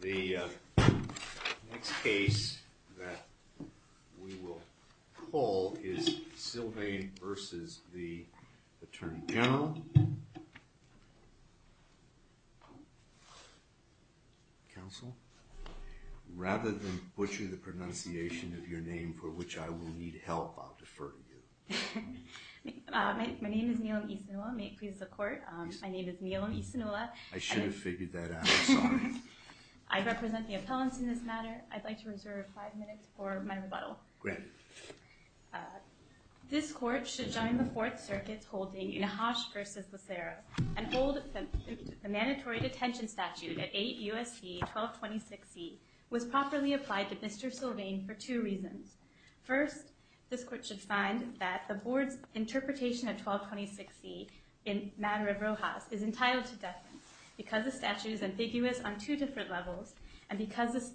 The next case that we will call is Sylvain v. Aty Gen, Council, rather than butcher the pronunciation of your name, for which I will need help, I'll defer to you. My name is Neelam Isinola. May it please the court? My name is Neelam Isinola. I should have figured that out. Sorry. I represent the appellants in this matter. I'd like to reserve five minutes for my rebuttal. Great. This court should join the fourth circuit holding Nahash v. Lacerra. An old mandatory detention statute at 8 U.S.C. 1226 C was properly applied to Mr. Sylvainv for two reasons. First, this court should find that the board's interpretation of 1226 C in matter of Rojas is entitled to death sentence because the statute is ambiguous on two different levels and because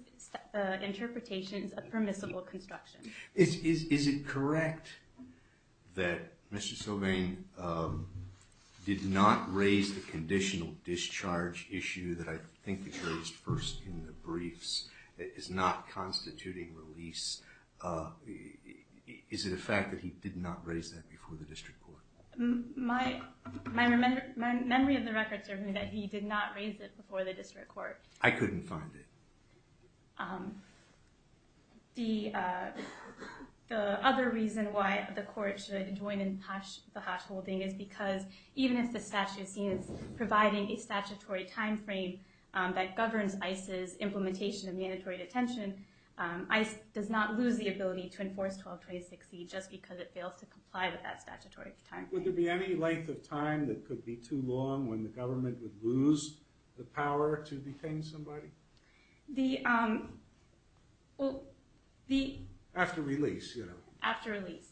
the interpretation is a permissible construction. Is it correct that Mr. Sylvain did not raise the conditional discharge issue that I think was raised first in the briefs that is not constituting release? Is it a fact that he did not raise that before the district court? My memory of the records are that he did not raise it before the district court. I couldn't find it. The other reason why the court should join the Nahash holding is because even if the statute is providing a statutory timeframe that governs ICE's implementation of mandatory detention, ICE does not lose the ability to enforce 1226 C just because it fails to comply with that statutory timeframe. Would there be any length of time that could be too long when the government would lose the power to detain somebody? After release. After release.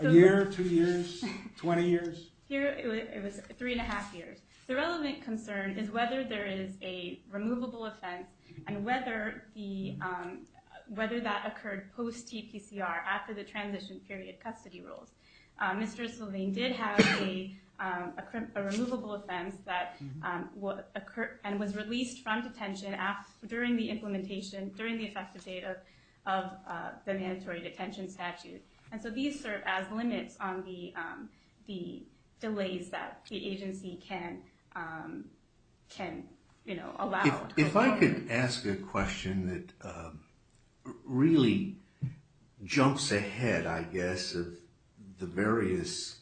A year, two years, 20 years? Three and a half years. The relevant concern is whether there is a removable offense and whether that occurred post TPCR after the transition period custody rules. Mr. Sylvain did have a removable offense that occurred and was released from detention during the implementation, during the effective date of the mandatory detention statute. And so these serve as limits on the delays that the agency can allow. If I could ask a question that really jumps ahead, I guess, of the various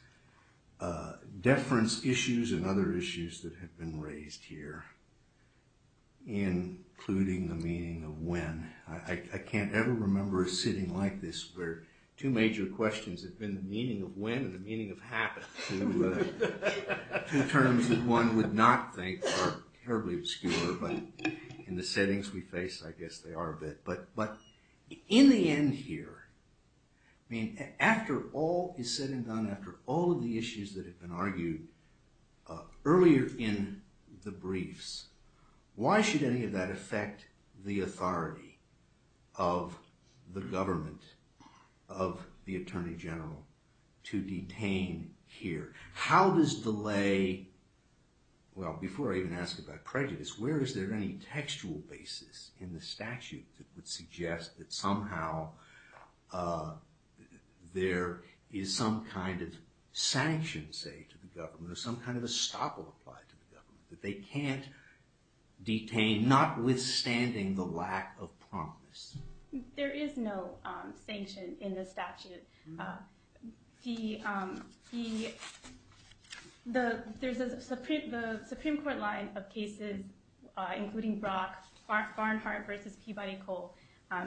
deference issues and other issues that have been raised here, including the meaning of when. I can't ever remember a sitting like this where two major questions have been the meaning of when and the meaning of happen. Two terms that one would not think are terribly obscure, but in the settings we face I guess they are a bit. But in the end here, after all is said and done, after all of the issues that have been argued earlier in the briefs, why should any of that affect the authority of the government, of the Attorney General to detain here? How does delay, well before I even ask about prejudice, where is there any textual basis in the statute that would suggest that somehow there is some kind of sanction, say, to the government or some kind of estoppel applied to the government. That they can't detain, notwithstanding the lack of promise. There is no sanction in the statute. The Supreme Court line of cases, including Brock, Farnhart v. Peabody Cole,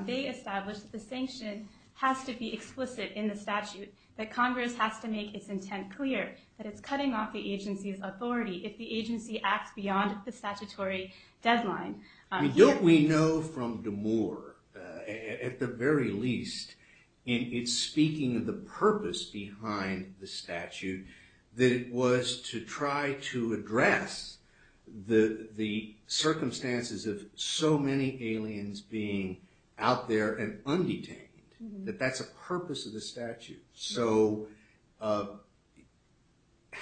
they established that the sanction has to be explicit in the statute. That Congress has to make its intent clear, that it's cutting off the agency's authority if the agency acts beyond the statutory deadline. Don't we know from Damore, at the very least, in its speaking of the purpose behind the statute, that it was to try to address the circumstances of so many aliens being out there and undetained. That that's a purpose of the statute. So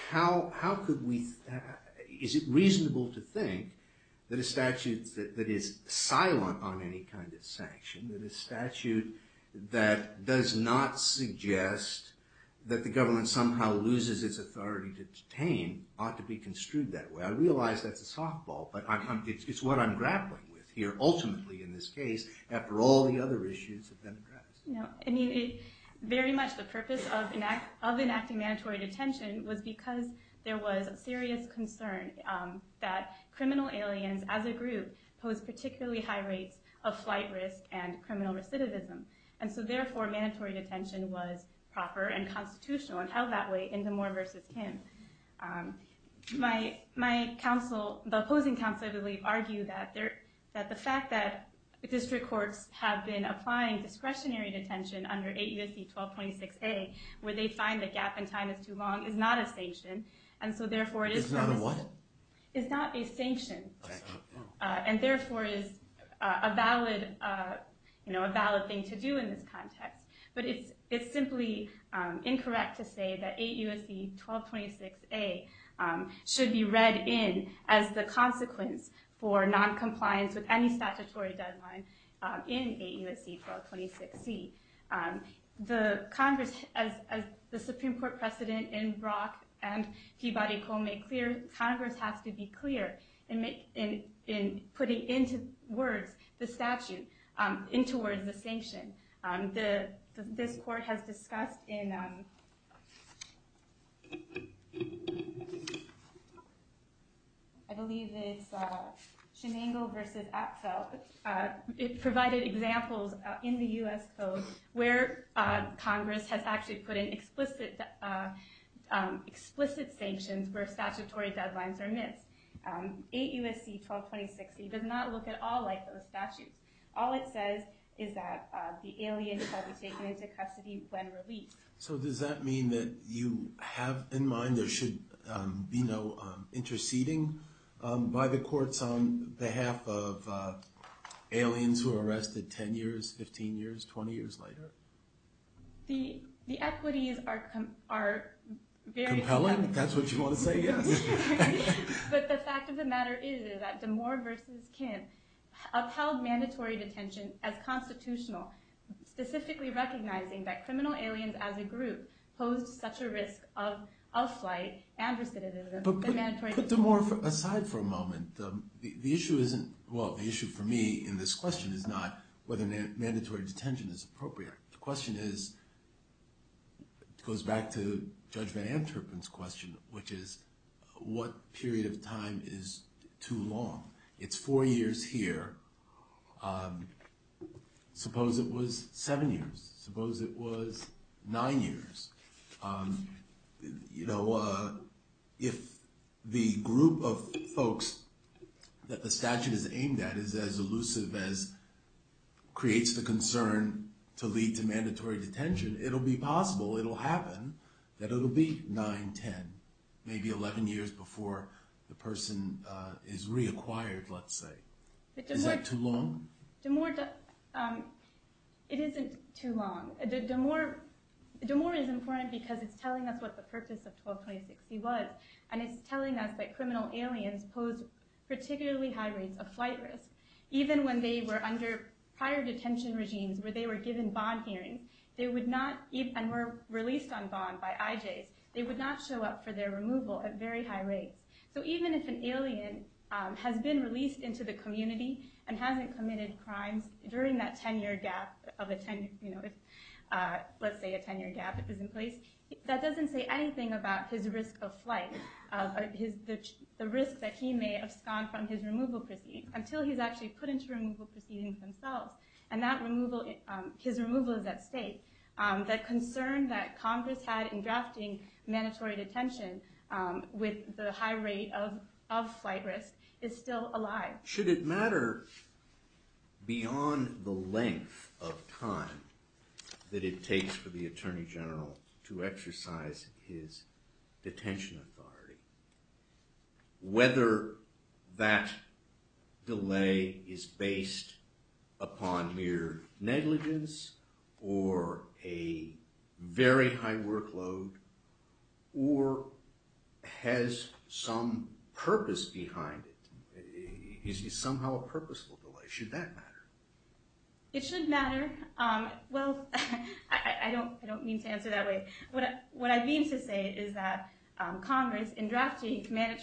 how could we, is it reasonable to think that a statute that is silent on any kind of sanction, that a statute that does not suggest that the government somehow loses its authority to detain, ought to be construed that way. I realize that's a softball, but it's what I'm grappling with here, ultimately in this case, after all the other issues have been addressed. Very much the purpose of enacting mandatory detention was because there was a serious concern that criminal aliens as a group pose particularly high rates of flight risk and criminal recidivism. And so therefore, mandatory detention was proper and constitutional and held that way in Damore v. Kim. The opposing counsel, I believe, argue that the fact that district courts have been applying discretionary detention under 8 U.S.C. 1226A, where they find the gap in time is too long, is not a sanction. It's not a what? It's not a sanction, and therefore is a valid thing to do in this context. But it's simply incorrect to say that 8 U.S.C. 1226A should be read in as the consequence for noncompliance with any statutory deadline in 8 U.S.C. 1226C. As the Supreme Court precedent in Brock and Peabody Cole made clear, Congress has to be clear in putting into words the statute, into words the sanction. This court has discussed in, I believe it's Shenango v. Atfeld, it provided examples in the U.S. Code where Congress has actually put in explicit sanctions where statutory deadlines are missed. 8 U.S.C. 1226A does not look at all like those statutes. All it says is that the alien shall be taken into custody when released. So does that mean that you have in mind there should be no interceding by the courts on behalf of aliens who are arrested 10 years, 15 years, 20 years later? The equities are very compelling. That's what you want to say? Yes. But the fact of the matter is that Demore v. Kinn upheld mandatory detention as constitutional, specifically recognizing that criminal aliens as a group posed such a risk of outflight and recidivism. But put Demore aside for a moment. The issue isn't, well the issue for me in this question is not whether mandatory detention is appropriate. The question is, goes back to Judge Van Anterpen's question, which is what period of time is too long? It's four years here. Suppose it was seven years. Suppose it was nine years. If the group of folks that the statute is aimed at is as elusive as creates the concern to lead to mandatory detention, it'll be possible, it'll happen, that it'll be 9, 10, maybe 11 years before the person is reacquired, let's say. Is that too long? It isn't too long. Demore is important because it's telling us what the purpose of 122060 was, and it's telling us that criminal aliens posed particularly high rates of flight risk. Even when they were under prior detention regimes where they were given bond hearings and were released on bond by IJs, they would not show up for their removal at very high rates. So even if an alien has been released into the community and hasn't committed crimes during that 10 year gap, let's say a 10 year gap, that doesn't say anything about his risk of flight, the risk that he may abscond from his removal proceedings, until he's actually put into removal proceedings himself, and his removal is at stake. That concern that Congress had in drafting mandatory detention with the high rate of flight risk is still alive. Should it matter beyond the length of time that it takes for the Attorney General to exercise his detention authority, whether that delay is based upon mere negligence, or a very high workload, or has some purpose behind it? Is it somehow a purposeful delay? Should that matter? It should matter. Well, I don't mean to answer that way. What I mean to say is that Congress, in drafting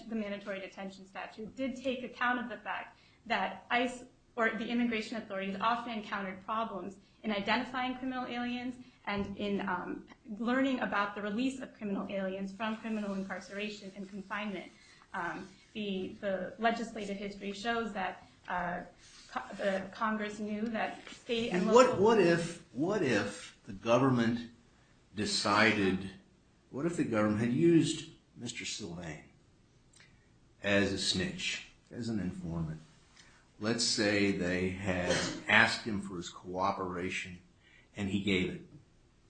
the mandatory detention statute, did take account of the fact that ICE or the immigration authorities often encountered problems in identifying criminal aliens and in learning about the release of criminal aliens from criminal incarceration and confinement. The legislative history shows that Congress knew that state and local... And what if the government decided, what if the government had used Mr. Sylvain as a snitch, as an informant? Let's say they had asked him for his cooperation and he gave it.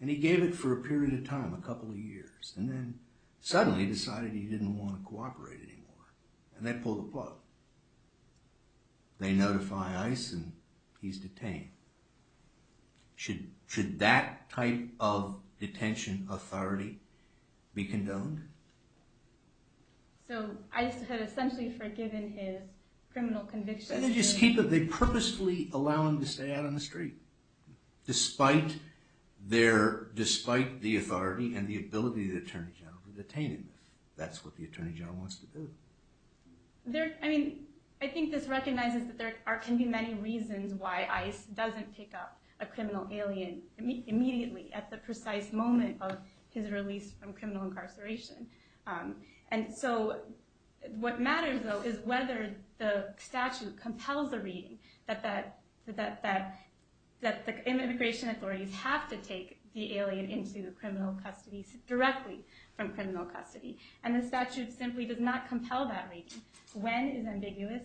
And he gave it for a period of time, a couple of years, and then suddenly decided he didn't want to cooperate anymore. And they pull the plug. They notify ICE and he's detained. Should that type of detention authority be condoned? So ICE had essentially forgiven his criminal convictions... And they purposely allow him to stay out on the street, despite the authority and the ability of the Attorney General to detain him. That's what the Attorney General wants to do. I think this recognizes that there can be many reasons why ICE doesn't pick up a criminal alien immediately, at the precise moment of his release from criminal incarceration. And so what matters, though, is whether the statute compels a reading that the immigration authorities have to take the alien into criminal custody, directly from criminal custody. And the statute simply does not compel that reading. When is ambiguous,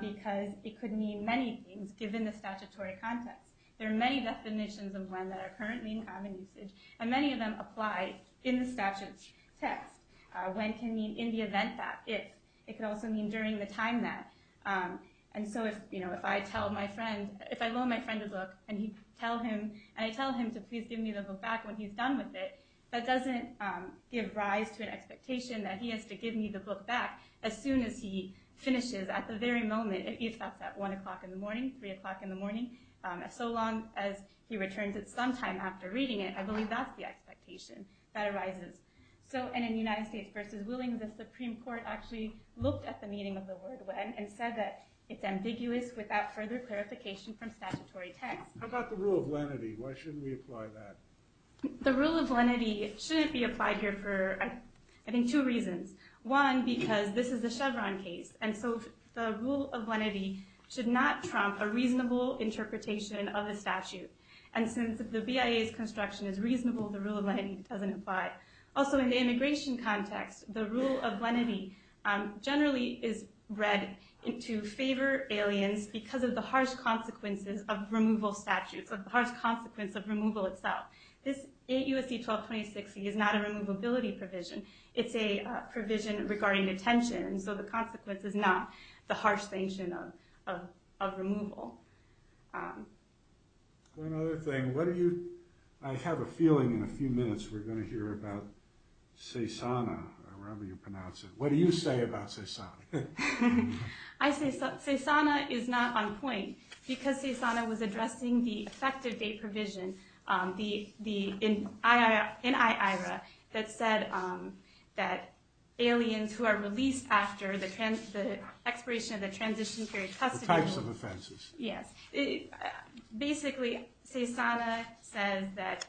because it could mean many things, given the statutory context. There are many definitions of when that are currently in common usage, and many of them apply in the statute's text. When can mean in the event that. It could also mean during the time that. And so if I loan my friend a book, and I tell him to please give me the book back when he's done with it, that doesn't give rise to an expectation that he has to give me the book back as soon as he finishes, at the very moment. It's not that one o'clock in the morning, three o'clock in the morning. So long as he returns it sometime after reading it, I believe that's the expectation that arises. So, and in United States v. Willing, the Supreme Court actually looked at the meaning of the word when, and said that it's ambiguous without further clarification from statutory text. How about the rule of lenity? Why shouldn't we apply that? The rule of lenity shouldn't be applied here for, I think, two reasons. One, because this is a Chevron case, and so the rule of lenity should not trump a reasonable interpretation of the statute. And since the BIA's construction is reasonable, the rule of lenity doesn't apply. Also, in the immigration context, the rule of lenity generally is read to favor aliens because of the harsh consequences of removal statutes, of the harsh consequence of removal itself. This 8 U.S.C. 122060 is not a removability provision. It's a provision regarding detention, and so the consequence is not the harsh sanction of removal. One other thing, what are you, I have a feeling in a few minutes we're going to hear about CESANA, or however you pronounce it. What do you say about CESANA? CESANA is not on point, because CESANA was addressing the effective date provision, the NIIRA, that said that aliens who are released after the expiration of the transition period custody Yes. Basically, CESANA says that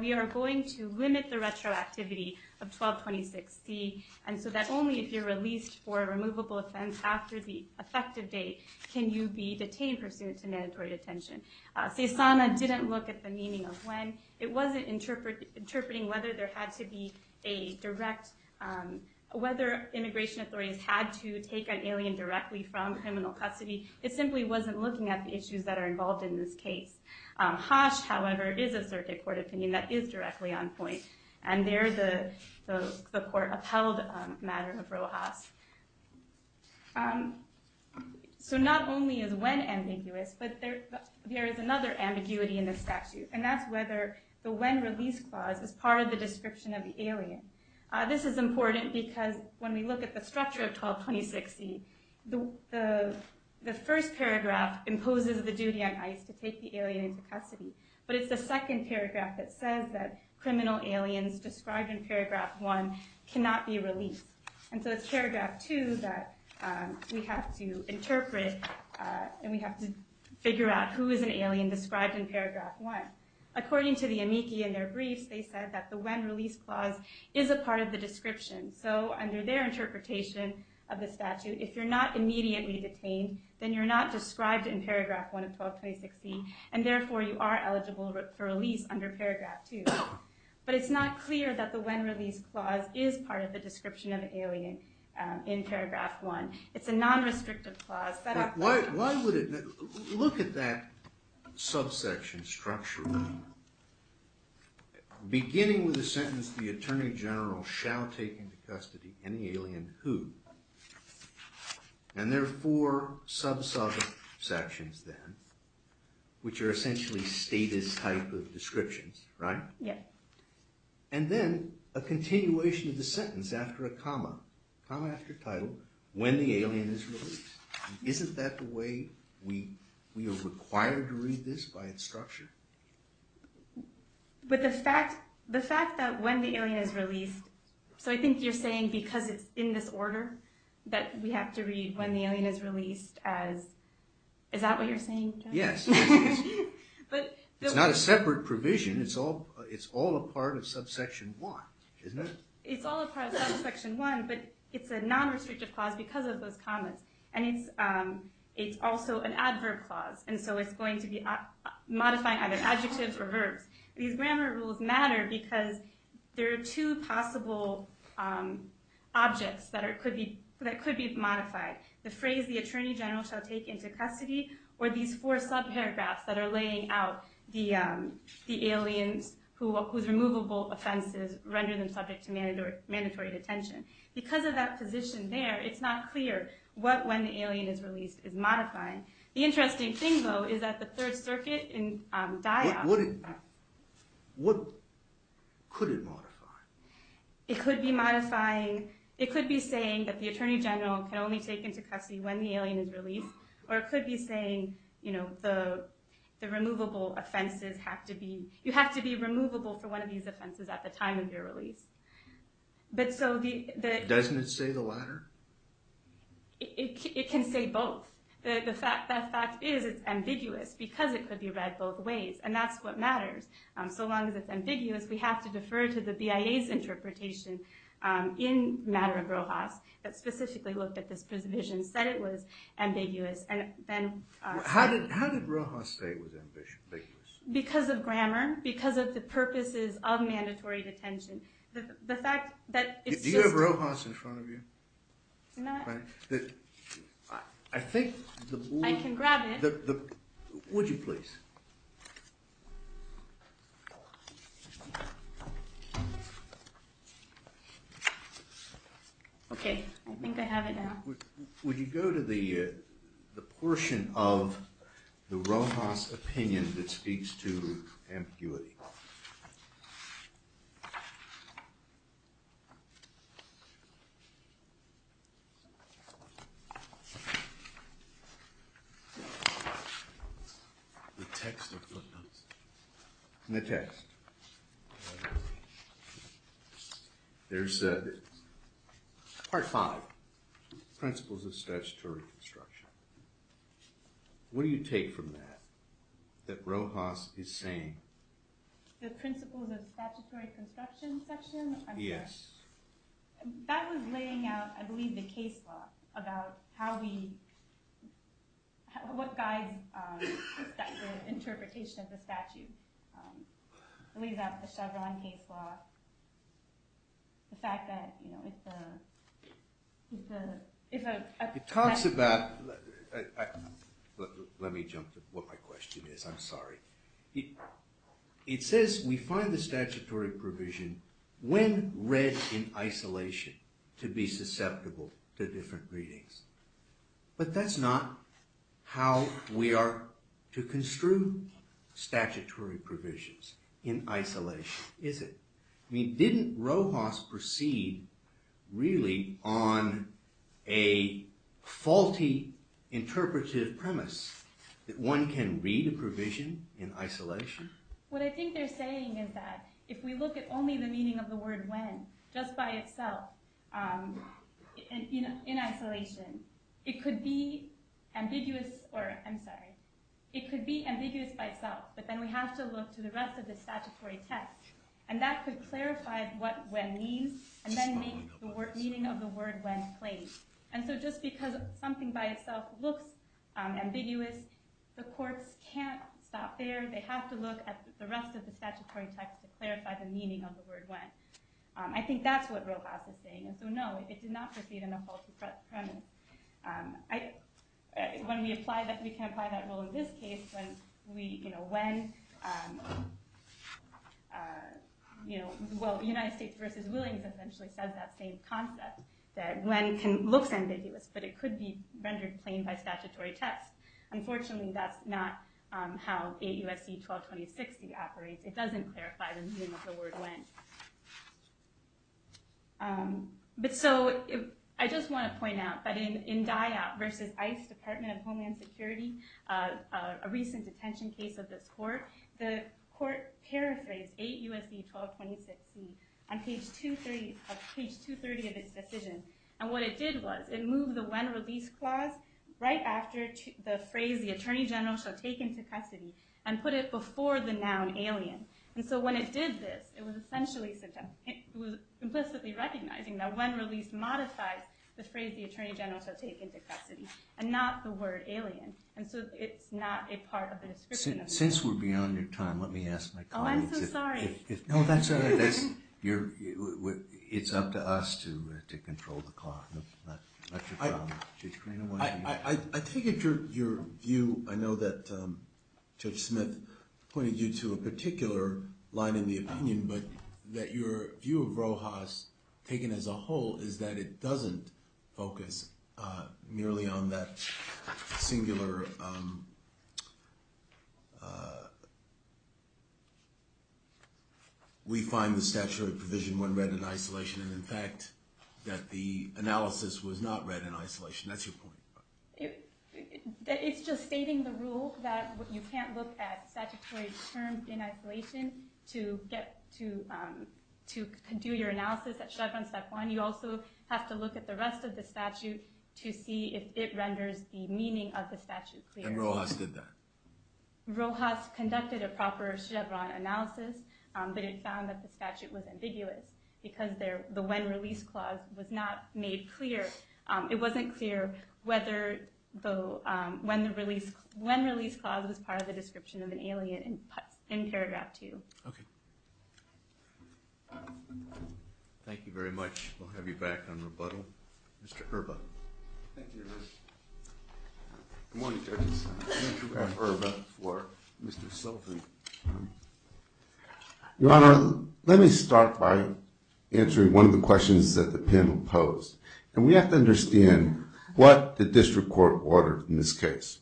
we are going to limit the retroactivity of 122060, and so that only if you're released for a removable offense after the effective date can you be detained pursuant to mandatory detention. CESANA didn't look at the meaning of when. It wasn't interpreting whether immigration authorities had to take an alien directly from criminal custody. It simply wasn't looking at the issues that are involved in this case. Haas, however, is a circuit court opinion that is directly on point, and there the court upheld the matter of Rojas. So not only is when ambiguous, but there is another ambiguity in the statute, and that's whether the when release clause is part of the description of the alien. This is important because when we look at the structure of 122060, the first paragraph imposes the duty on ICE to take the alien into custody, but it's the second paragraph that says that criminal aliens described in paragraph one cannot be released. And so it's paragraph two that we have to interpret, and we have to figure out who is an alien described in paragraph one. According to the amici in their briefs, they said that the when release clause is a part of the description. So under their interpretation of the statute, if you're not immediately detained, then you're not described in paragraph one of 122060, and therefore you are eligible for release under paragraph two. But it's not clear that the when release clause is part of the description of an alien in paragraph one. It's a non-restrictive clause. Why would it, look at that subsection structurally. Beginning with the sentence, the attorney general shall take into custody any alien who, and there are four sub-subsections then, which are essentially status type of descriptions, right? And then a continuation of the sentence after a comma, comma after title, when the alien is released. Isn't that the way we are required to read this by its structure? But the fact that when the alien is released, so I think you're saying because it's in this order that we have to read when the alien is released as, is that what you're saying? Yes. It's not a separate provision, it's all a part of subsection one, isn't it? It's all a part of subsection one, but it's a non-restrictive clause because of those commas. And it's also an adverb clause, and so it's going to be modifying either adjectives or verbs. These grammar rules matter because there are two possible objects that could be modified. The phrase, the attorney general shall take into custody, or these four sub-paragraphs that are laying out the aliens whose removable offenses render them subject to mandatory detention. Because of that position there, it's not clear what, when the alien is released is modifying. The interesting thing, though, is that the Third Circuit in Diop... What could it modify? It could be modifying, it could be saying that the attorney general can only take into custody when the alien is released, or it could be saying, you know, the removable offenses have to be, you have to be removable for one of these offenses at the time of your release. But so the... Doesn't it say the latter? It can say both. The fact is it's ambiguous because it could be read both ways, and that's what matters. So long as it's ambiguous, we have to defer to the BIA's interpretation in Matter of Rojas that specifically looked at this provision, said it was ambiguous, and then... How did Rojas say it was ambiguous? Because of grammar, because of the purposes of mandatory detention. The fact that it's just... Do you have Rojas in front of you? No. I think... I can grab it. Would you please? Okay, I think I have it now. Would you go to the portion of the Rojas opinion that speaks to ambiguity? The text of Rojas. The text. The text. There's... Part five. Principles of statutory construction. What do you take from that? That Rojas is saying... The principles of statutory construction section? Yes. That was laying out, I believe, the case law about how we... What guides the interpretation of the statute. I believe that's the Chevron case law. The fact that, you know, it's a... It talks about... Let me jump to what my question is, I'm sorry. It says we find the statutory provision when read in isolation to be susceptible to different readings. But that's not how we are to construe statutory provisions in isolation, is it? Didn't Rojas proceed, really, on a faulty interpretive premise? That one can read a provision in isolation? What I think they're saying is that if we look at only the meaning of the word when, just by itself, in isolation, it could be ambiguous... I'm sorry. It could be ambiguous by itself, but then we have to look to the rest of the statutory text. And that could clarify what when means, and then make the meaning of the word when plain. And so just because something by itself looks ambiguous, the courts can't stop there. They have to look at the rest of the statutory text to clarify the meaning of the word when. I think that's what Rojas is saying. And so, no, it did not proceed on a faulty premise. When we apply that, we can apply that rule in this case, when we, you know, when... You know, well, United States v. Williams essentially says that same concept, that when looks ambiguous, but it could be rendered plain by statutory text. Unfortunately, that's not how AUFC 122060 operates. It doesn't clarify the meaning of the word when. But so, I just want to point out that in DIOP v. ICE, Department of Homeland Security, a recent detention case of this court, the court paraphrased AUFC 122060 on page 230 of its decision. And what it did was, it moved the when release clause right after the phrase, the attorney general shall take into custody, and put it before the noun alien. And so, when it did this, it was essentially... It was implicitly recognizing that when release modifies the phrase, the attorney general shall take into custody, and not the word alien. And so, it's not a part of the description of... Since we're beyond your time, let me ask my colleagues... Oh, I'm so sorry. No, that's all right. It's up to us to control the clock. Not your problem. I take it your view... I know that Judge Smith pointed you to a particular line in the opinion, but that your view of Rojas taken as a whole is that it doesn't focus merely on that singular... We find the statutory provision when read in isolation, and in fact, that the analysis was not read in isolation. That's your point. It's just stating the rule that you can't look at statutory terms in isolation to do your analysis at Chevron step one. You also have to look at the rest of the statute to see if it renders the meaning of the statute clear. And Rojas did that. Rojas conducted a proper Chevron analysis, but it found that the statute was ambiguous because the when-release clause was not made clear. It wasn't clear whether the when-release clause was part of the description of an alien in paragraph two. Okay. Thank you very much. We'll have you back on rebuttal. Mr. Erba. Thank you, Your Honor. Good morning, judges. Andrew Erba for Mr. Sullivan. Your Honor, let me start by answering one of the questions that the panel posed, and we have to understand what the district court ordered in this case.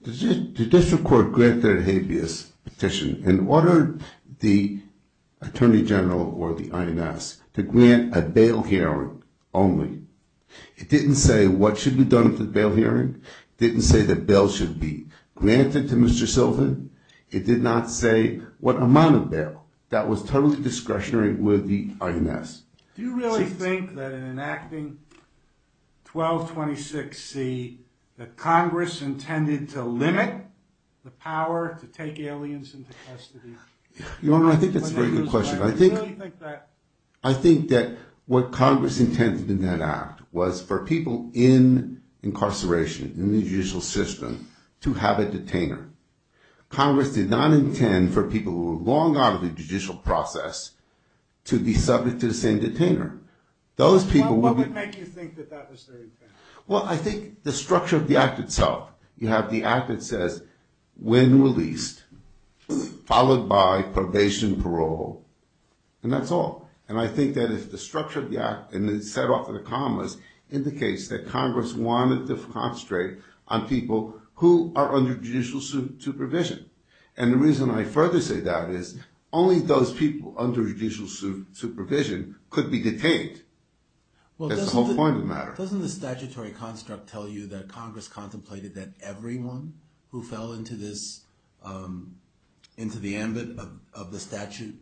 The district court granted a habeas petition and ordered the attorney general or the INS to grant a bail hearing only. It didn't say what should be done at the bail hearing. It didn't say that bail should be granted to Mr. Sullivan. It did not say what amount of bail. That was totally discretionary with the INS. Do you really think that in enacting 1226C that Congress intended to limit the power to take aliens into custody? Your Honor, I think that's a very good question. I think that what Congress intended in that act was for people in incarceration in the judicial system to have a detainer. Congress did not intend for people who were long out of the judicial process to be subject to the same detainer. What would make you think that that was their intent? Well, I think the structure of the act itself. You have the act that says, when released, followed by probation, parole, and that's all. And I think that if the structure of the act, and it's set off in the commas, indicates that Congress wanted to concentrate on people who are under judicial supervision. And the reason I further say that is only those people under judicial supervision could be detained. That's the whole point of the matter. Doesn't the statutory construct tell you that Congress contemplated that everyone who fell into the ambit of the statute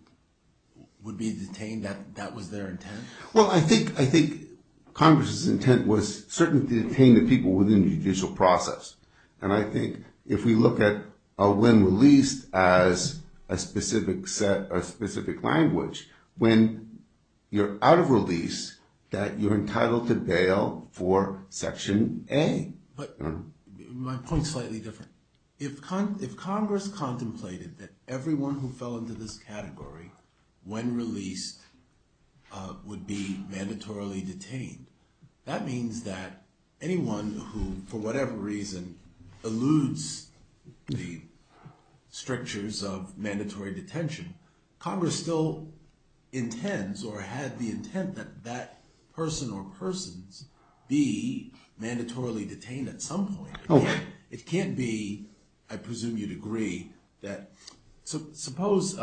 would be detained? That was their intent? Well, I think Congress's intent was certainly to detain the people within the judicial process. And I think if we look at when released as a specific language, when you're out of release, that you're entitled to bail for Section A. But my point's slightly different. If Congress contemplated that everyone who fell into this category, when released, would be mandatorily detained, that means that anyone who, for whatever reason, eludes the strictures of mandatory detention, Congress still intends or had the intent that that person or persons be mandatorily detained at some point. It can't be, I presume you'd agree, that suppose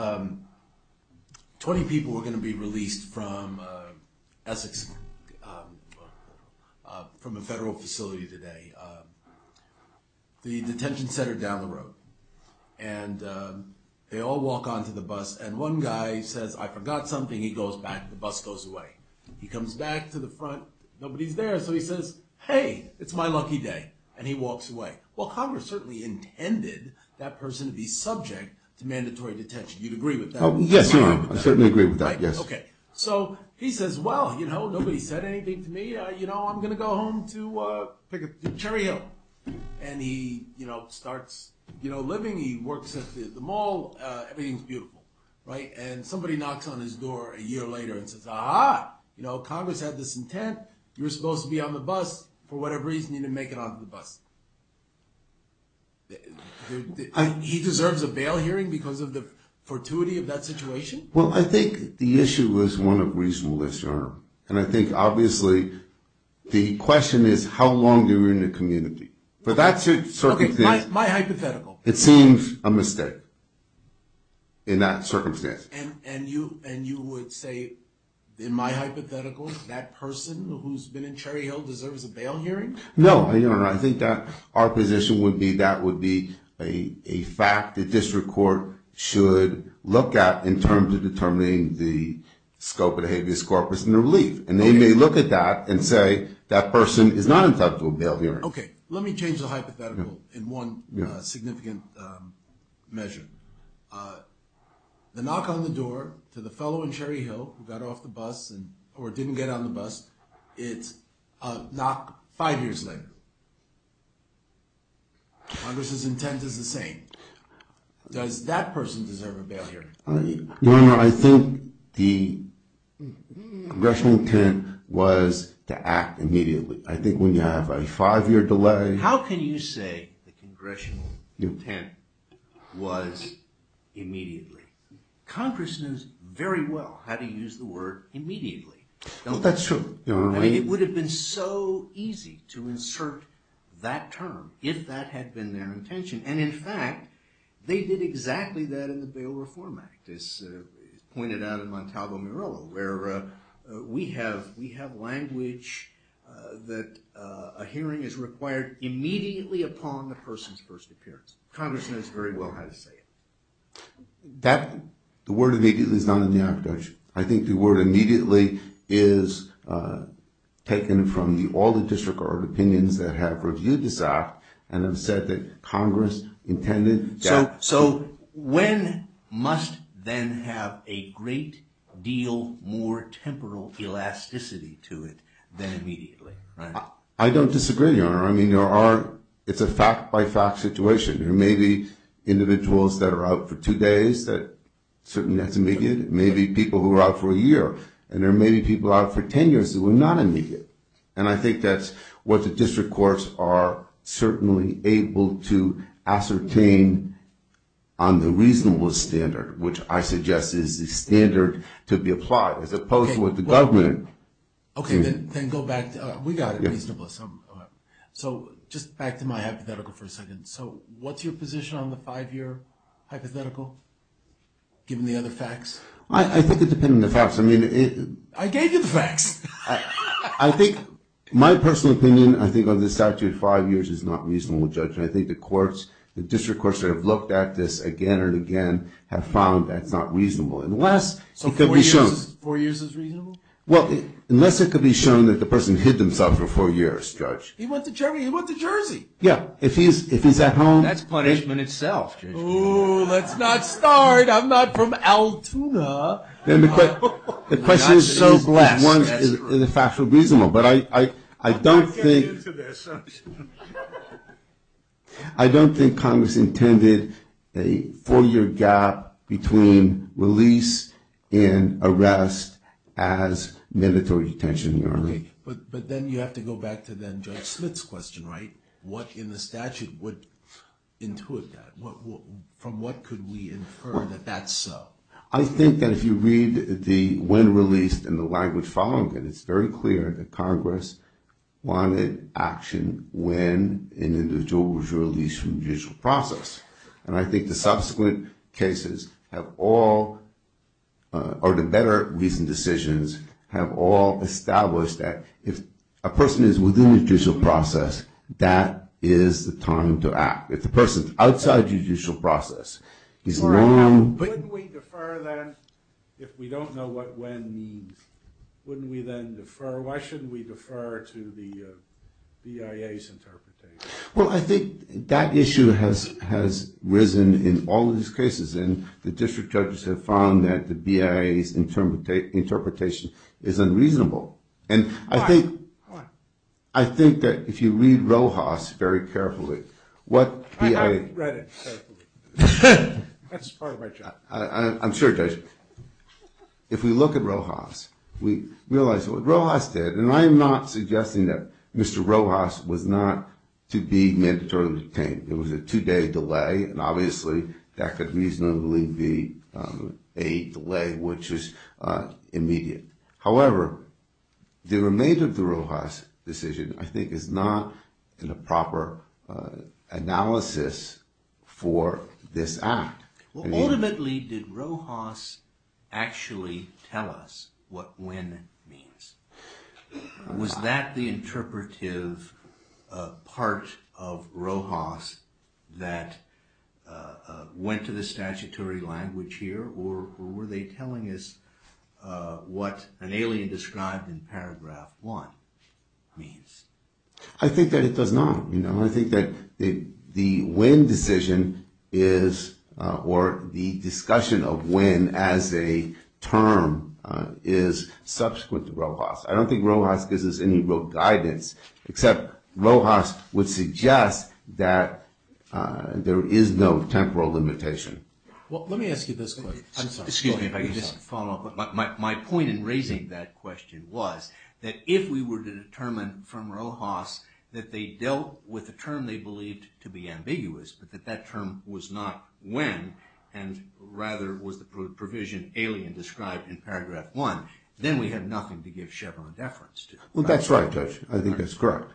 20 people were going to be released from Essex, from a federal facility today, the detention center down the road. And they all walk onto the bus, and one guy says, I forgot something. He goes back. The bus goes away. He comes back to the front. Nobody's there. So he says, hey, it's my lucky day. And he walks away. Well, Congress certainly intended that person to be subject to mandatory detention. You'd agree with that? Yes, I certainly agree with that. Yes. OK. So he says, well, nobody said anything to me. I'm going to go home to Cherry Hill. And he starts living. He works at the mall. Everything's beautiful, right? And somebody knocks on his door a year later and says, ah-ha, Congress had this intent. You were supposed to be on the bus for whatever reason. You didn't make it onto the bus. He deserves a bail hearing because of the fortuity of that situation? Well, I think the issue was one of reasonableness, Your Honor. And I think, obviously, the question is how long you were in the community. But that's a certain thing. OK, my hypothetical. It seems a mistake in that circumstance. And you would say, in my hypothetical, that person who's been in Cherry Hill deserves a bail hearing? No, Your Honor. I think that our position would be that would be a fact that district court should look at in terms of determining the scope of the habeas corpus. And they may look at that and say that person is not entitled to a bail hearing. OK, let me change the hypothetical in one significant measure. The knock on the door to the fellow in Cherry Hill who got off the bus or didn't get on the bus, it's a knock five years later. Congress's intent is the same. Does that person deserve a bail hearing? Your Honor, I think the congressional intent was to act immediately. I think when you have a five-year delay. How can you say the congressional intent was immediately? Congress knows very well how to use the word immediately. That's true. It would have been so easy to insert that term if that had been their intention. And in fact, they did exactly that in the Bail Reform Act, as pointed out in Montalvo-Mirillo, where we have language that a hearing is required immediately upon the person's first appearance. Congress knows very well how to say it. The word immediately is not in the act, Judge. I think the word immediately is taken from all the disregarded opinions that have reviewed this act and have said that Congress intended. So when must then have a great deal more temporal elasticity to it than immediately? I don't disagree, Your Honor. I mean, it's a fact-by-fact situation. There may be individuals that are out for two days, certainly that's immediate. There may be people who are out for a year. And there may be people out for 10 years who are not immediate. And I think that's what the district courts are certainly able to ascertain on the reasonable standard, which I suggest is the standard to be applied, as opposed to what the government. Okay, then go back. We got it reasonable. So just back to my hypothetical for a second. So what's your position on the five-year hypothetical, given the other facts? I think it depends on the facts. I gave you the facts. I think my personal opinion, I think on this statute, five years is not reasonable, Judge. And I think the courts, the district courts that have looked at this again and again have found that it's not reasonable. So four years is reasonable? Well, unless it could be shown that the person hid themselves for four years, Judge. He went to Germany. He went to Jersey. Yeah. If he's at home. That's punishment itself, Judge. Ooh, let's not start. I'm not from Altoona. The question is so blessed. One is a factual reasonable. But I don't think. I'm not getting into this. I don't think Congress intended a four-year gap between release and arrest as mandatory detention. Okay. But then you have to go back to then Judge Smith's question, right? What in the statute would intuit that? From what could we infer that that's so? I think that if you read the when released and the language following it, it's very clear that Congress wanted action when an individual was released from judicial process. And I think the subsequent cases have all, or the better reasoned decisions, have all established that if a person is within judicial process, that is the time to act. If the person is outside judicial process, he's long. Wouldn't we defer then if we don't know what when means? Wouldn't we then defer? Why shouldn't we defer to the BIA's interpretation? Well, I think that issue has risen in all of these cases. And the district judges have found that the BIA's interpretation is unreasonable. Why? Why? I think that if you read Rojas very carefully, what BIA. I haven't read it carefully. That's part of my job. I'm sure, Judge. If we look at Rojas, we realize what Rojas did, and I am not suggesting that Mr. Rojas was not to be mandatory detained. It was a two-day delay, and obviously that could reasonably be a delay which is immediate. However, the remainder of the Rojas decision I think is not in a proper analysis for this act. Ultimately, did Rojas actually tell us what when means? Was that the interpretive part of Rojas that went to the statutory language here? Or were they telling us what an alien described in paragraph one means? I think that it does not. I think that the when decision is, or the discussion of when as a term, is subsequent to Rojas. I don't think Rojas gives us any real guidance, except Rojas would suggest that there is no temporal limitation. Well, let me ask you this question. Excuse me if I can just follow up. My point in raising that question was that if we were to determine from Rojas that they dealt with a term they believed to be ambiguous, but that that term was not when, and rather was the provision alien described in paragraph one, then we have nothing to give Chevron deference to. Well, that's right, Judge. I think that's correct.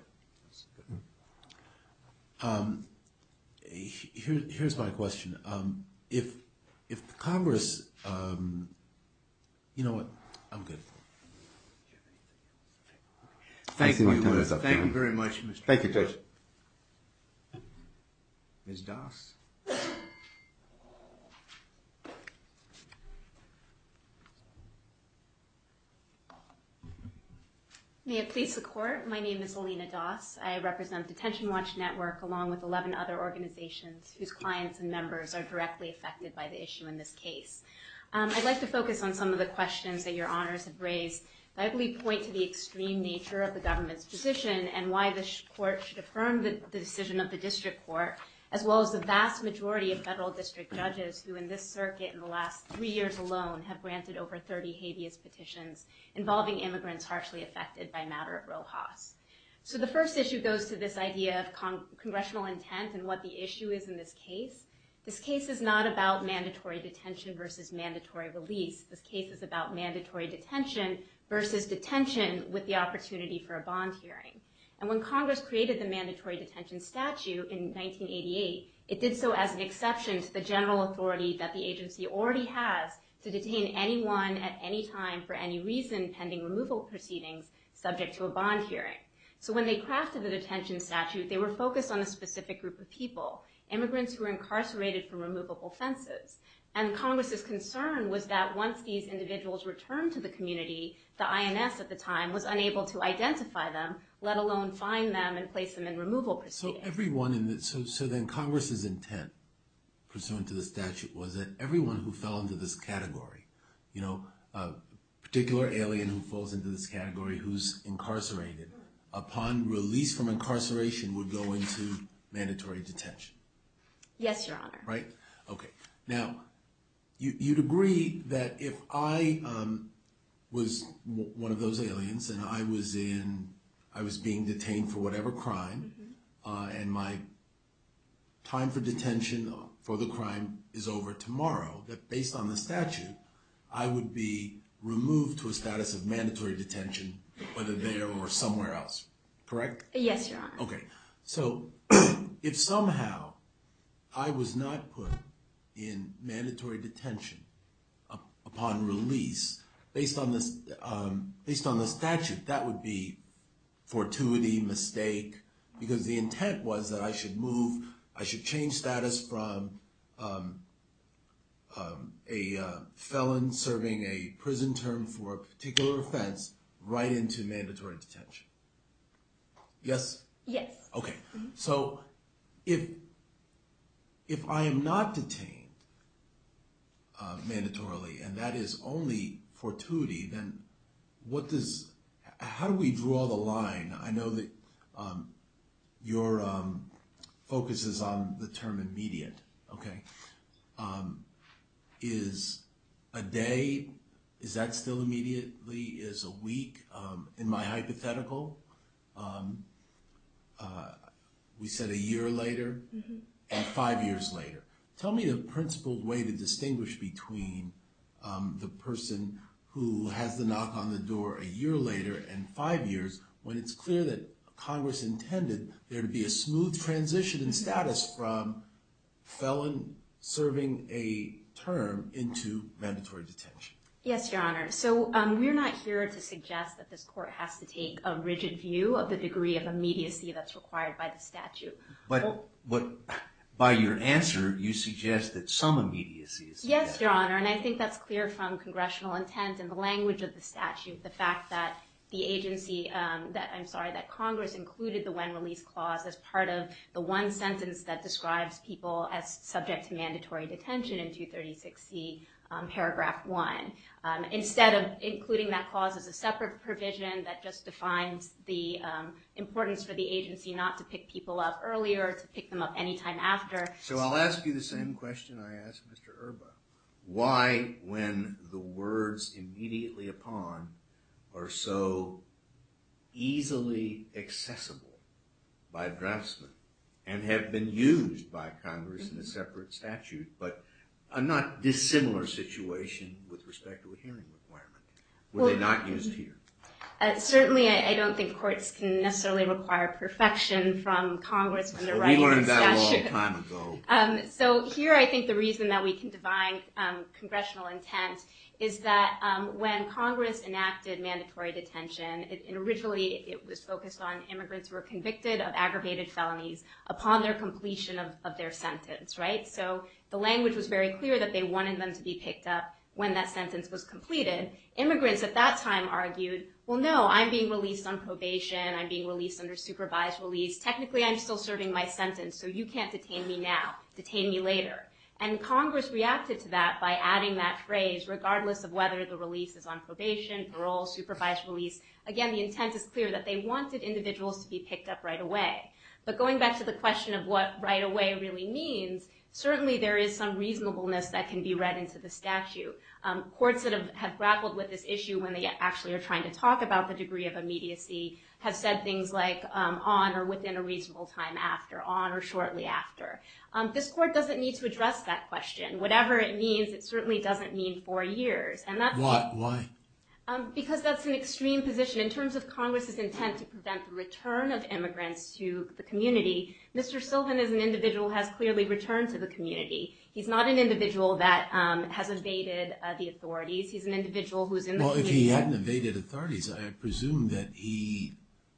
Here's my question. If Congress, you know what, I'm good. Thank you very much. Thank you, Judge. Ms. Doss. May it please the Court. My name is Alina Doss. I represent Detention Watch Network along with 11 other organizations whose clients and members are directly affected by the issue in this case. I'd like to focus on some of the questions that your honors have raised that I believe point to the extreme nature of the government's position and why the court should affirm the decision of the district court, as well as the vast majority of federal district judges who in this circuit in the last three years alone have granted over 30 habeas petitions involving immigrants harshly affected by a matter of Rojas. So the first issue goes to this idea of congressional intent and what the issue is in this case. This case is not about mandatory detention versus mandatory release. This case is about mandatory detention versus detention with the opportunity for a bond hearing. And when Congress created the mandatory detention statute in 1988, it did so as an exception to the general authority that the agency already has to detain anyone at any time for any reason pending removal proceedings subject to a bond hearing. So when they crafted the detention statute, they were focused on a specific group of people, immigrants who were incarcerated for removable offenses. And Congress's concern was that once these individuals returned to the community, the INS at the time was unable to identify them, let alone find them and place them in removal proceedings. So then Congress's intent pursuant to the statute was that everyone who fell into this category, a particular alien who falls into this category who's incarcerated, upon release from incarceration would go into mandatory detention. Yes, your honor. Right? Okay. Now, you'd agree that if I was one of those aliens and I was being detained for whatever crime and my time for detention for the crime is over tomorrow, that based on the statute, I would be removed to a status of mandatory detention, whether there or somewhere else, correct? Yes, your honor. Okay. So if somehow I was not put in mandatory detention upon release, based on the statute, that would be fortuity, mistake, because the intent was that I should move, I should change status from a felon serving a prison term for a particular offense right into mandatory detention. Yes? Yes. Okay. So if I am not detained mandatorily and that is only fortuity, then what does, how do we draw the line? I know that your focus is on the term immediate, okay? Is a day, is that still immediately, is a week? In my hypothetical, we said a year later and five years later. Tell me the principled way to distinguish between the person who has the knock on the door a year later and five years when it's clear that Congress intended there to be a smooth transition in status from felon serving a term into mandatory detention. Yes, your honor. So we're not here to suggest that this court has to take a rigid view of the degree of immediacy that's required by the statute. But by your answer, you suggest that some immediacy is required. Yes, your honor. And I think that's clear from congressional intent and the language of the statute, the fact that the agency, that I'm sorry, that Congress included the when release clause as part of the one sentence that describes people as subject to mandatory detention in 236C paragraph one. Instead of including that clause as a separate provision that just defines the importance for the agency not to pick people up earlier, to pick them up any time after. So I'll ask you the same question I asked Mr. Erba. Why when the words immediately upon are so easily accessible by draftsmen and have been used by Congress in a separate statute, but a not dissimilar situation with respect to a hearing requirement? Were they not used here? Certainly I don't think courts can necessarily require perfection from Congress when they're writing the statute. We learned that a long time ago. So here I think the reason that we can define congressional intent is that when Congress enacted mandatory detention, originally it was focused on immigrants who were convicted of aggravated felonies upon their completion of their sentence, right? So the language was very clear that they wanted them to be picked up when that sentence was completed. Immigrants at that time argued, well no, I'm being released on probation. I'm being released under supervised release. Technically I'm still serving my sentence, so you can't detain me now. Detain me later. And Congress reacted to that by adding that phrase, regardless of whether the release is on probation, parole, supervised release. Again, the intent is clear that they wanted individuals to be picked up right away. But going back to the question of what right away really means, certainly there is some reasonableness that can be read into the statute. Courts that have grappled with this issue when they actually are trying to talk about the degree of immediacy have said things like on or within a reasonable time after, on or shortly after. This court doesn't need to address that question. Whatever it means, it certainly doesn't mean four years. Why? Because that's an extreme position. In terms of Congress's intent to prevent the return of immigrants to the community, Mr. Sylvan is an individual who has clearly returned to the community. He's not an individual that has evaded the authorities. He's an individual who's in the community. Well, if he hadn't evaded authorities, I presume that he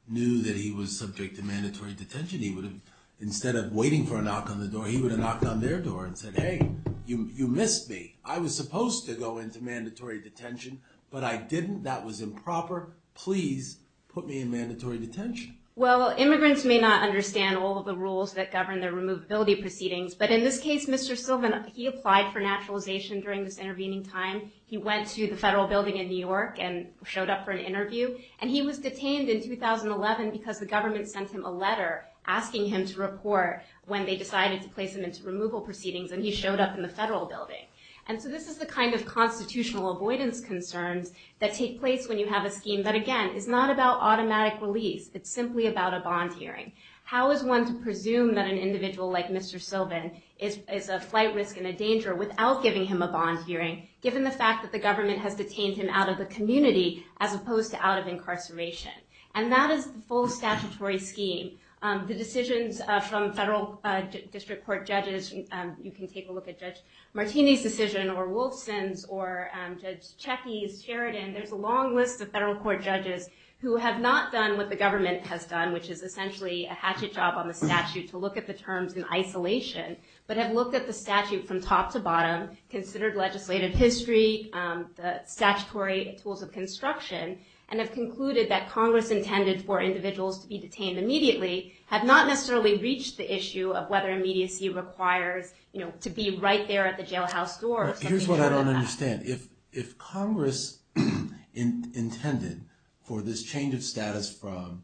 knew that he was subject to mandatory detention. Instead of waiting for a knock on the door, he would have knocked on their door and said, Hey, you missed me. I was supposed to go into mandatory detention, but I didn't. That was improper. Please put me in mandatory detention. Well, immigrants may not understand all of the rules that govern their removability proceedings, but in this case, Mr. Sylvan, he applied for naturalization during this intervening time. He went to the federal building in New York and showed up for an interview. And he was detained in 2011 because the government sent him a letter asking him to report when they decided to place him into removal proceedings, and he showed up in the federal building. And so this is the kind of constitutional avoidance concerns that take place when you have a scheme that, again, is not about automatic release. It's simply about a bond hearing. How is one to presume that an individual like Mr. Sylvan is a flight risk and a danger without giving him a bond hearing, given the fact that the government has detained him out of the community as opposed to out of incarceration? And that is the full statutory scheme. The decisions from federal district court judges, you can take a look at Judge Martini's decision, or Wolfson's, or Judge Checky's, Sheridan. There's a long list of federal court judges who have not done what the government has done, which is essentially a hatchet job on the statute to look at the terms in isolation, but have looked at the statute from top to bottom, considered legislative history, the statutory tools of construction, and have concluded that Congress intended for individuals to be detained immediately have not necessarily reached the issue of whether immediacy requires to be right there at the jailhouse door. Here's what I don't understand. If Congress intended for this change of status from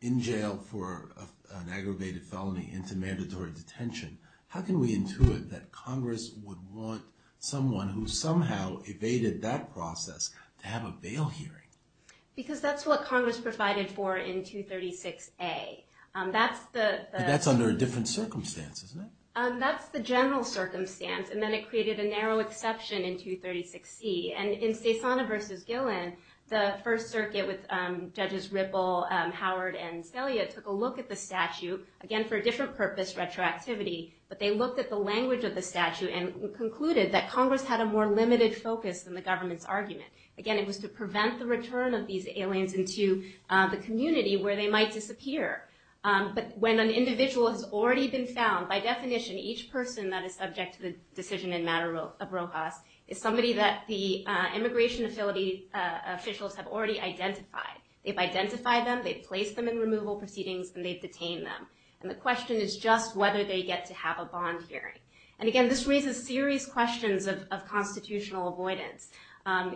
in jail for an aggravated felony into mandatory detention, how can we intuit that Congress would want someone who somehow evaded that process to have a bail hearing? Because that's what Congress provided for in 236A. But that's under a different circumstance, isn't it? That's the general circumstance, and then it created a narrow exception in 236C. And in Cezana v. Gillen, the First Circuit, with Judges Ripple, Howard, and Scalia, took a look at the statute, again for a different purpose, retroactivity, but they looked at the language of the statute and concluded that Congress had a more limited focus than the government's argument. Again, it was to prevent the return of these aliens into the community where they might disappear. But when an individual has already been found, by definition, each person that is subject to the decision in matter of Rojas is somebody that the immigration officials have already identified. They've identified them, they've placed them in removal proceedings, and they've detained them. And the question is just whether they get to have a bond hearing. And again, this raises serious questions of constitutional avoidance.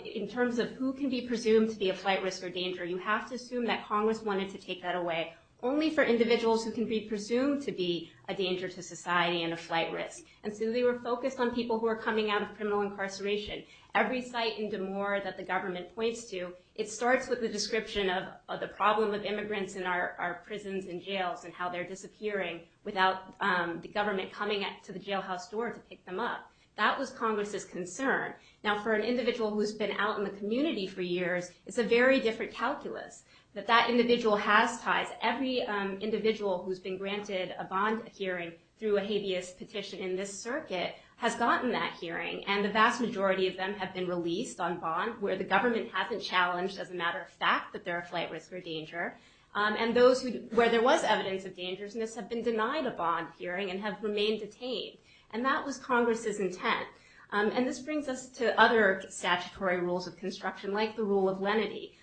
In terms of who can be presumed to be a flight risk or danger, you have to assume that Congress wanted to take that away only for individuals who can be presumed to be a danger to society and a flight risk. And so they were focused on people who are coming out of criminal incarceration. Every site in DeMoore that the government points to, it starts with the description of the problem of immigrants in our prisons and jails and how they're disappearing without the government coming to the jailhouse door to pick them up. That was Congress's concern. Now, for an individual who's been out in the community for years, it's a very different calculus that that individual has ties. Every individual who's been granted a bond hearing through a habeas petition in this circuit has gotten that hearing. And the vast majority of them have been released on bond where the government hasn't challenged as a matter of fact that they're a flight risk or danger. And those where there was evidence of dangerousness have been denied a bond hearing and have remained detained. And that was Congress's intent. And this brings us to other statutory rules of construction like the rule of lenity.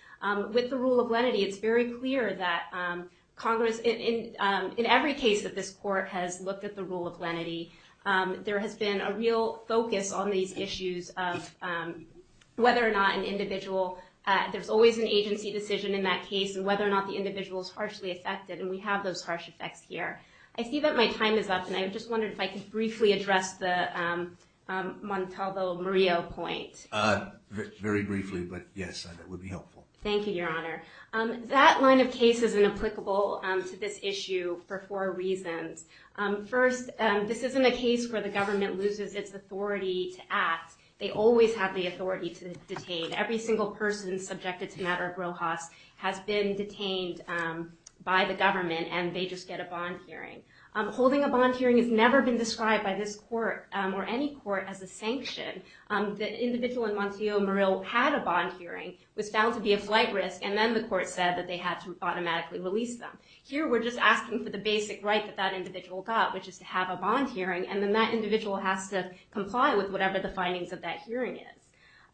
With the rule of lenity, it's very clear that Congress, in every case that this court has looked at the rule of lenity, there has been a real focus on these issues of whether or not an individual, there's always an agency decision in that case and whether or not the individual is harshly affected. And we have those harsh effects here. I see that my time is up, and I just wondered if I could briefly address the Montalvo-Murillo point. Very briefly, but yes, it would be helpful. Thank you, Your Honor. That line of case is inapplicable to this issue for four reasons. First, this isn't a case where the government loses its authority to act. They always have the authority to detain. Every single person subjected to matter of Rojas has been detained by the government, and they just get a bond hearing. Holding a bond hearing has never been described by this court or any court as a sanction. The individual in Montalvo-Murillo had a bond hearing, was found to be a flight risk, and then the court said that they had to automatically release them. Here, we're just asking for the basic right that that individual got, which is to have a bond hearing, and then that individual has to comply with whatever the findings of that hearing is.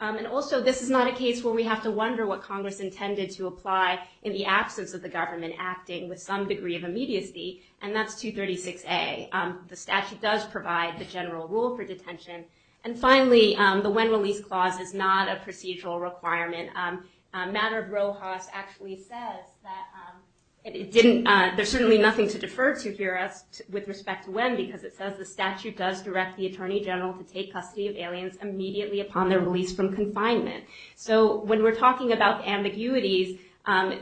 And also, this is not a case where we have to wonder what Congress intended to apply in the absence of the government acting with some degree of immediacy, and that's 236A. The statute does provide the general rule for detention. And finally, the when release clause is not a procedural requirement. Matter of Rojas actually says that it didn't, there's certainly nothing to defer to here with respect to when because it says the statute does direct the attorney general to take custody of aliens immediately upon their release from confinement. So when we're talking about ambiguities,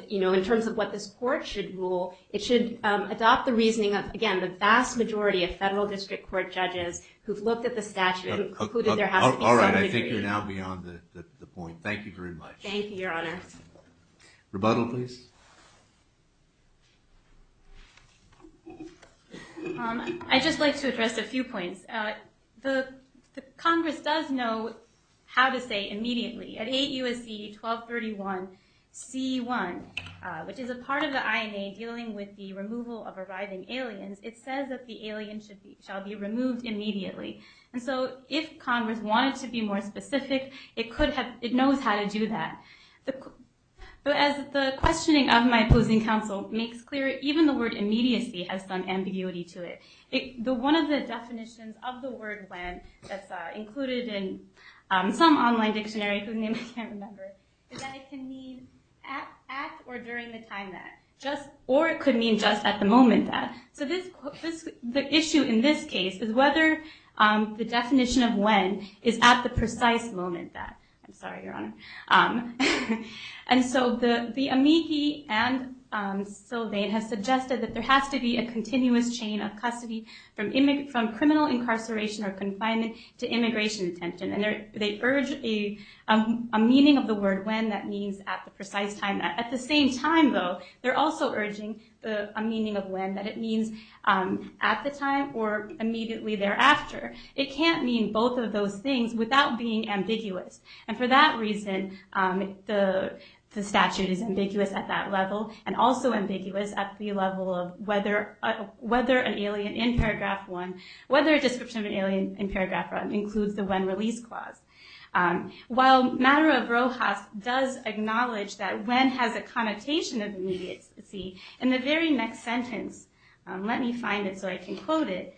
you know, in terms of what this court should rule, it should adopt the reasoning of, again, the vast majority of federal district court judges who've looked at the statute and concluded there has to be some degree. All right, I think you're now beyond the point. Thank you very much. Thank you, Your Honor. Rebuttal, please. I'd just like to address a few points. Congress does know how to say immediately. At 8 U.S.C. 1231 C1, which is a part of the INA dealing with the removal of arriving aliens, it says that the alien shall be removed immediately. And so if Congress wanted to be more specific, it knows how to do that. But as the questioning of my opposing counsel makes clear, even the word immediacy has some ambiguity to it. One of the definitions of the word when that's included in some online dictionary whose name I can't remember is that it can mean at or during the time that, or it could mean just at the moment that. So the issue in this case is whether the definition of when is at the precise moment that. I'm sorry, Your Honor. And so the amici and Sylvain have suggested that there has to be a continuous chain of custody from criminal incarceration or confinement to immigration detention. And they urge a meaning of the word when that means at the precise time. At the same time, though, they're also urging a meaning of when that it means at the time or immediately thereafter. It can't mean both of those things without being ambiguous. And for that reason, the statute is ambiguous at that level and also ambiguous at the level of whether an alien in paragraph one, whether a description of an alien in paragraph one includes the when release clause. While matter of Rojas does acknowledge that when has a connotation of immediacy, in the very next sentence, let me find it so I can quote it.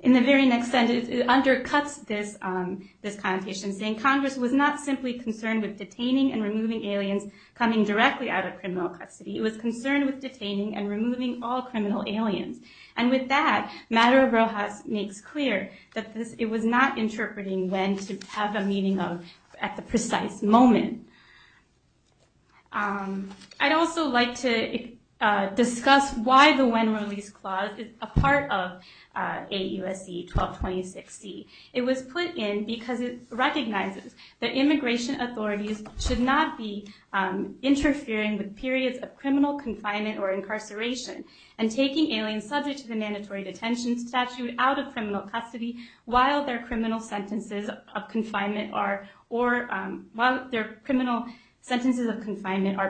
In the very next sentence, it undercuts this connotation saying, Congress was not simply concerned with detaining and removing aliens coming directly out of criminal custody. It was concerned with detaining and removing all criminal aliens. And with that, matter of Rojas makes clear that it was not interpreting when to have a meaning of at the precise moment. I'd also like to discuss why the when release clause is a part of AUSC 1226C. It was put in because it recognizes that immigration authorities should not be interfering with periods of criminal confinement or incarceration and taking aliens subject to the mandatory detention statute out of criminal custody while their criminal sentences of confinement are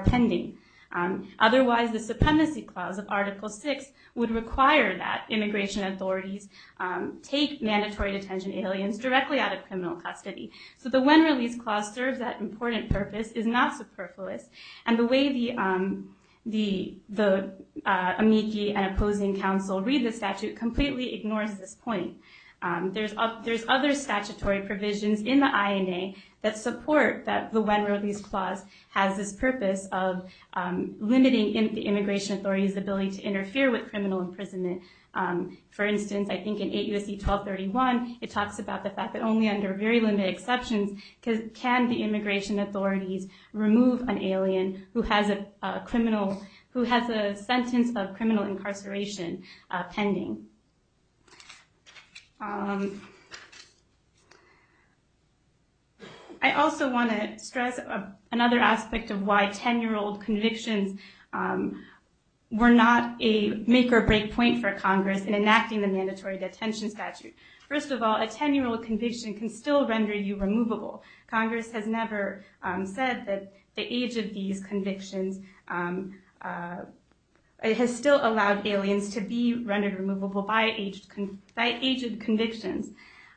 pending. Otherwise, the supremacy clause of article six would require that immigration authorities take mandatory detention aliens directly out of criminal custody. So the when release clause serves that important purpose, is not superfluous. And the way the amici and opposing counsel read the statute completely ignores this point. There's other statutory provisions in the INA that support that the when release clause has this purpose of limiting the immigration authority's ability to interfere with criminal imprisonment. For instance, I think in AUSC 1231, it talks about the fact that only under very limited exceptions can the immigration authorities remove an alien who has a criminal, who has a sentence of criminal incarceration pending. I also want to stress another aspect of why 10-year-old convictions were not a make or break point for Congress in enacting the mandatory detention statute. First of all, a 10-year-old conviction can still render you removable. Congress has never said that the age of these convictions, it has still allowed aliens to be rendered removable by age of convictions.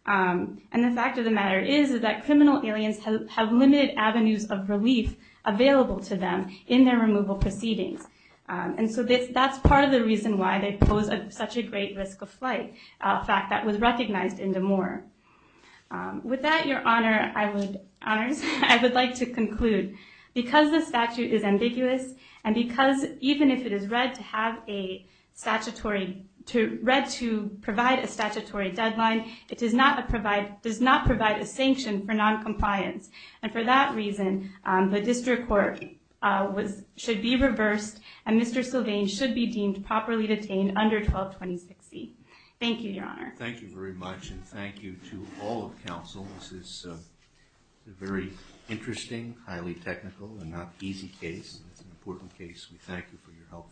And the fact of the matter is that criminal aliens have limited avenues of relief available to them in their removal proceedings. And so that's part of the reason why they pose such a great risk of flight. A fact that was recognized in De Moore. With that, Your Honors, I would like to conclude. Because the statute is ambiguous and because even if it is read to provide a statutory deadline, it does not provide a sanction for noncompliance. And for that reason, the district court should be reversed and Mr. Sylvain should be deemed properly detained under 1226C. Thank you, Your Honor. Thank you very much. And thank you to all of counsel. This is a very interesting, highly technical and not easy case. It's an important case. We thank you for your help.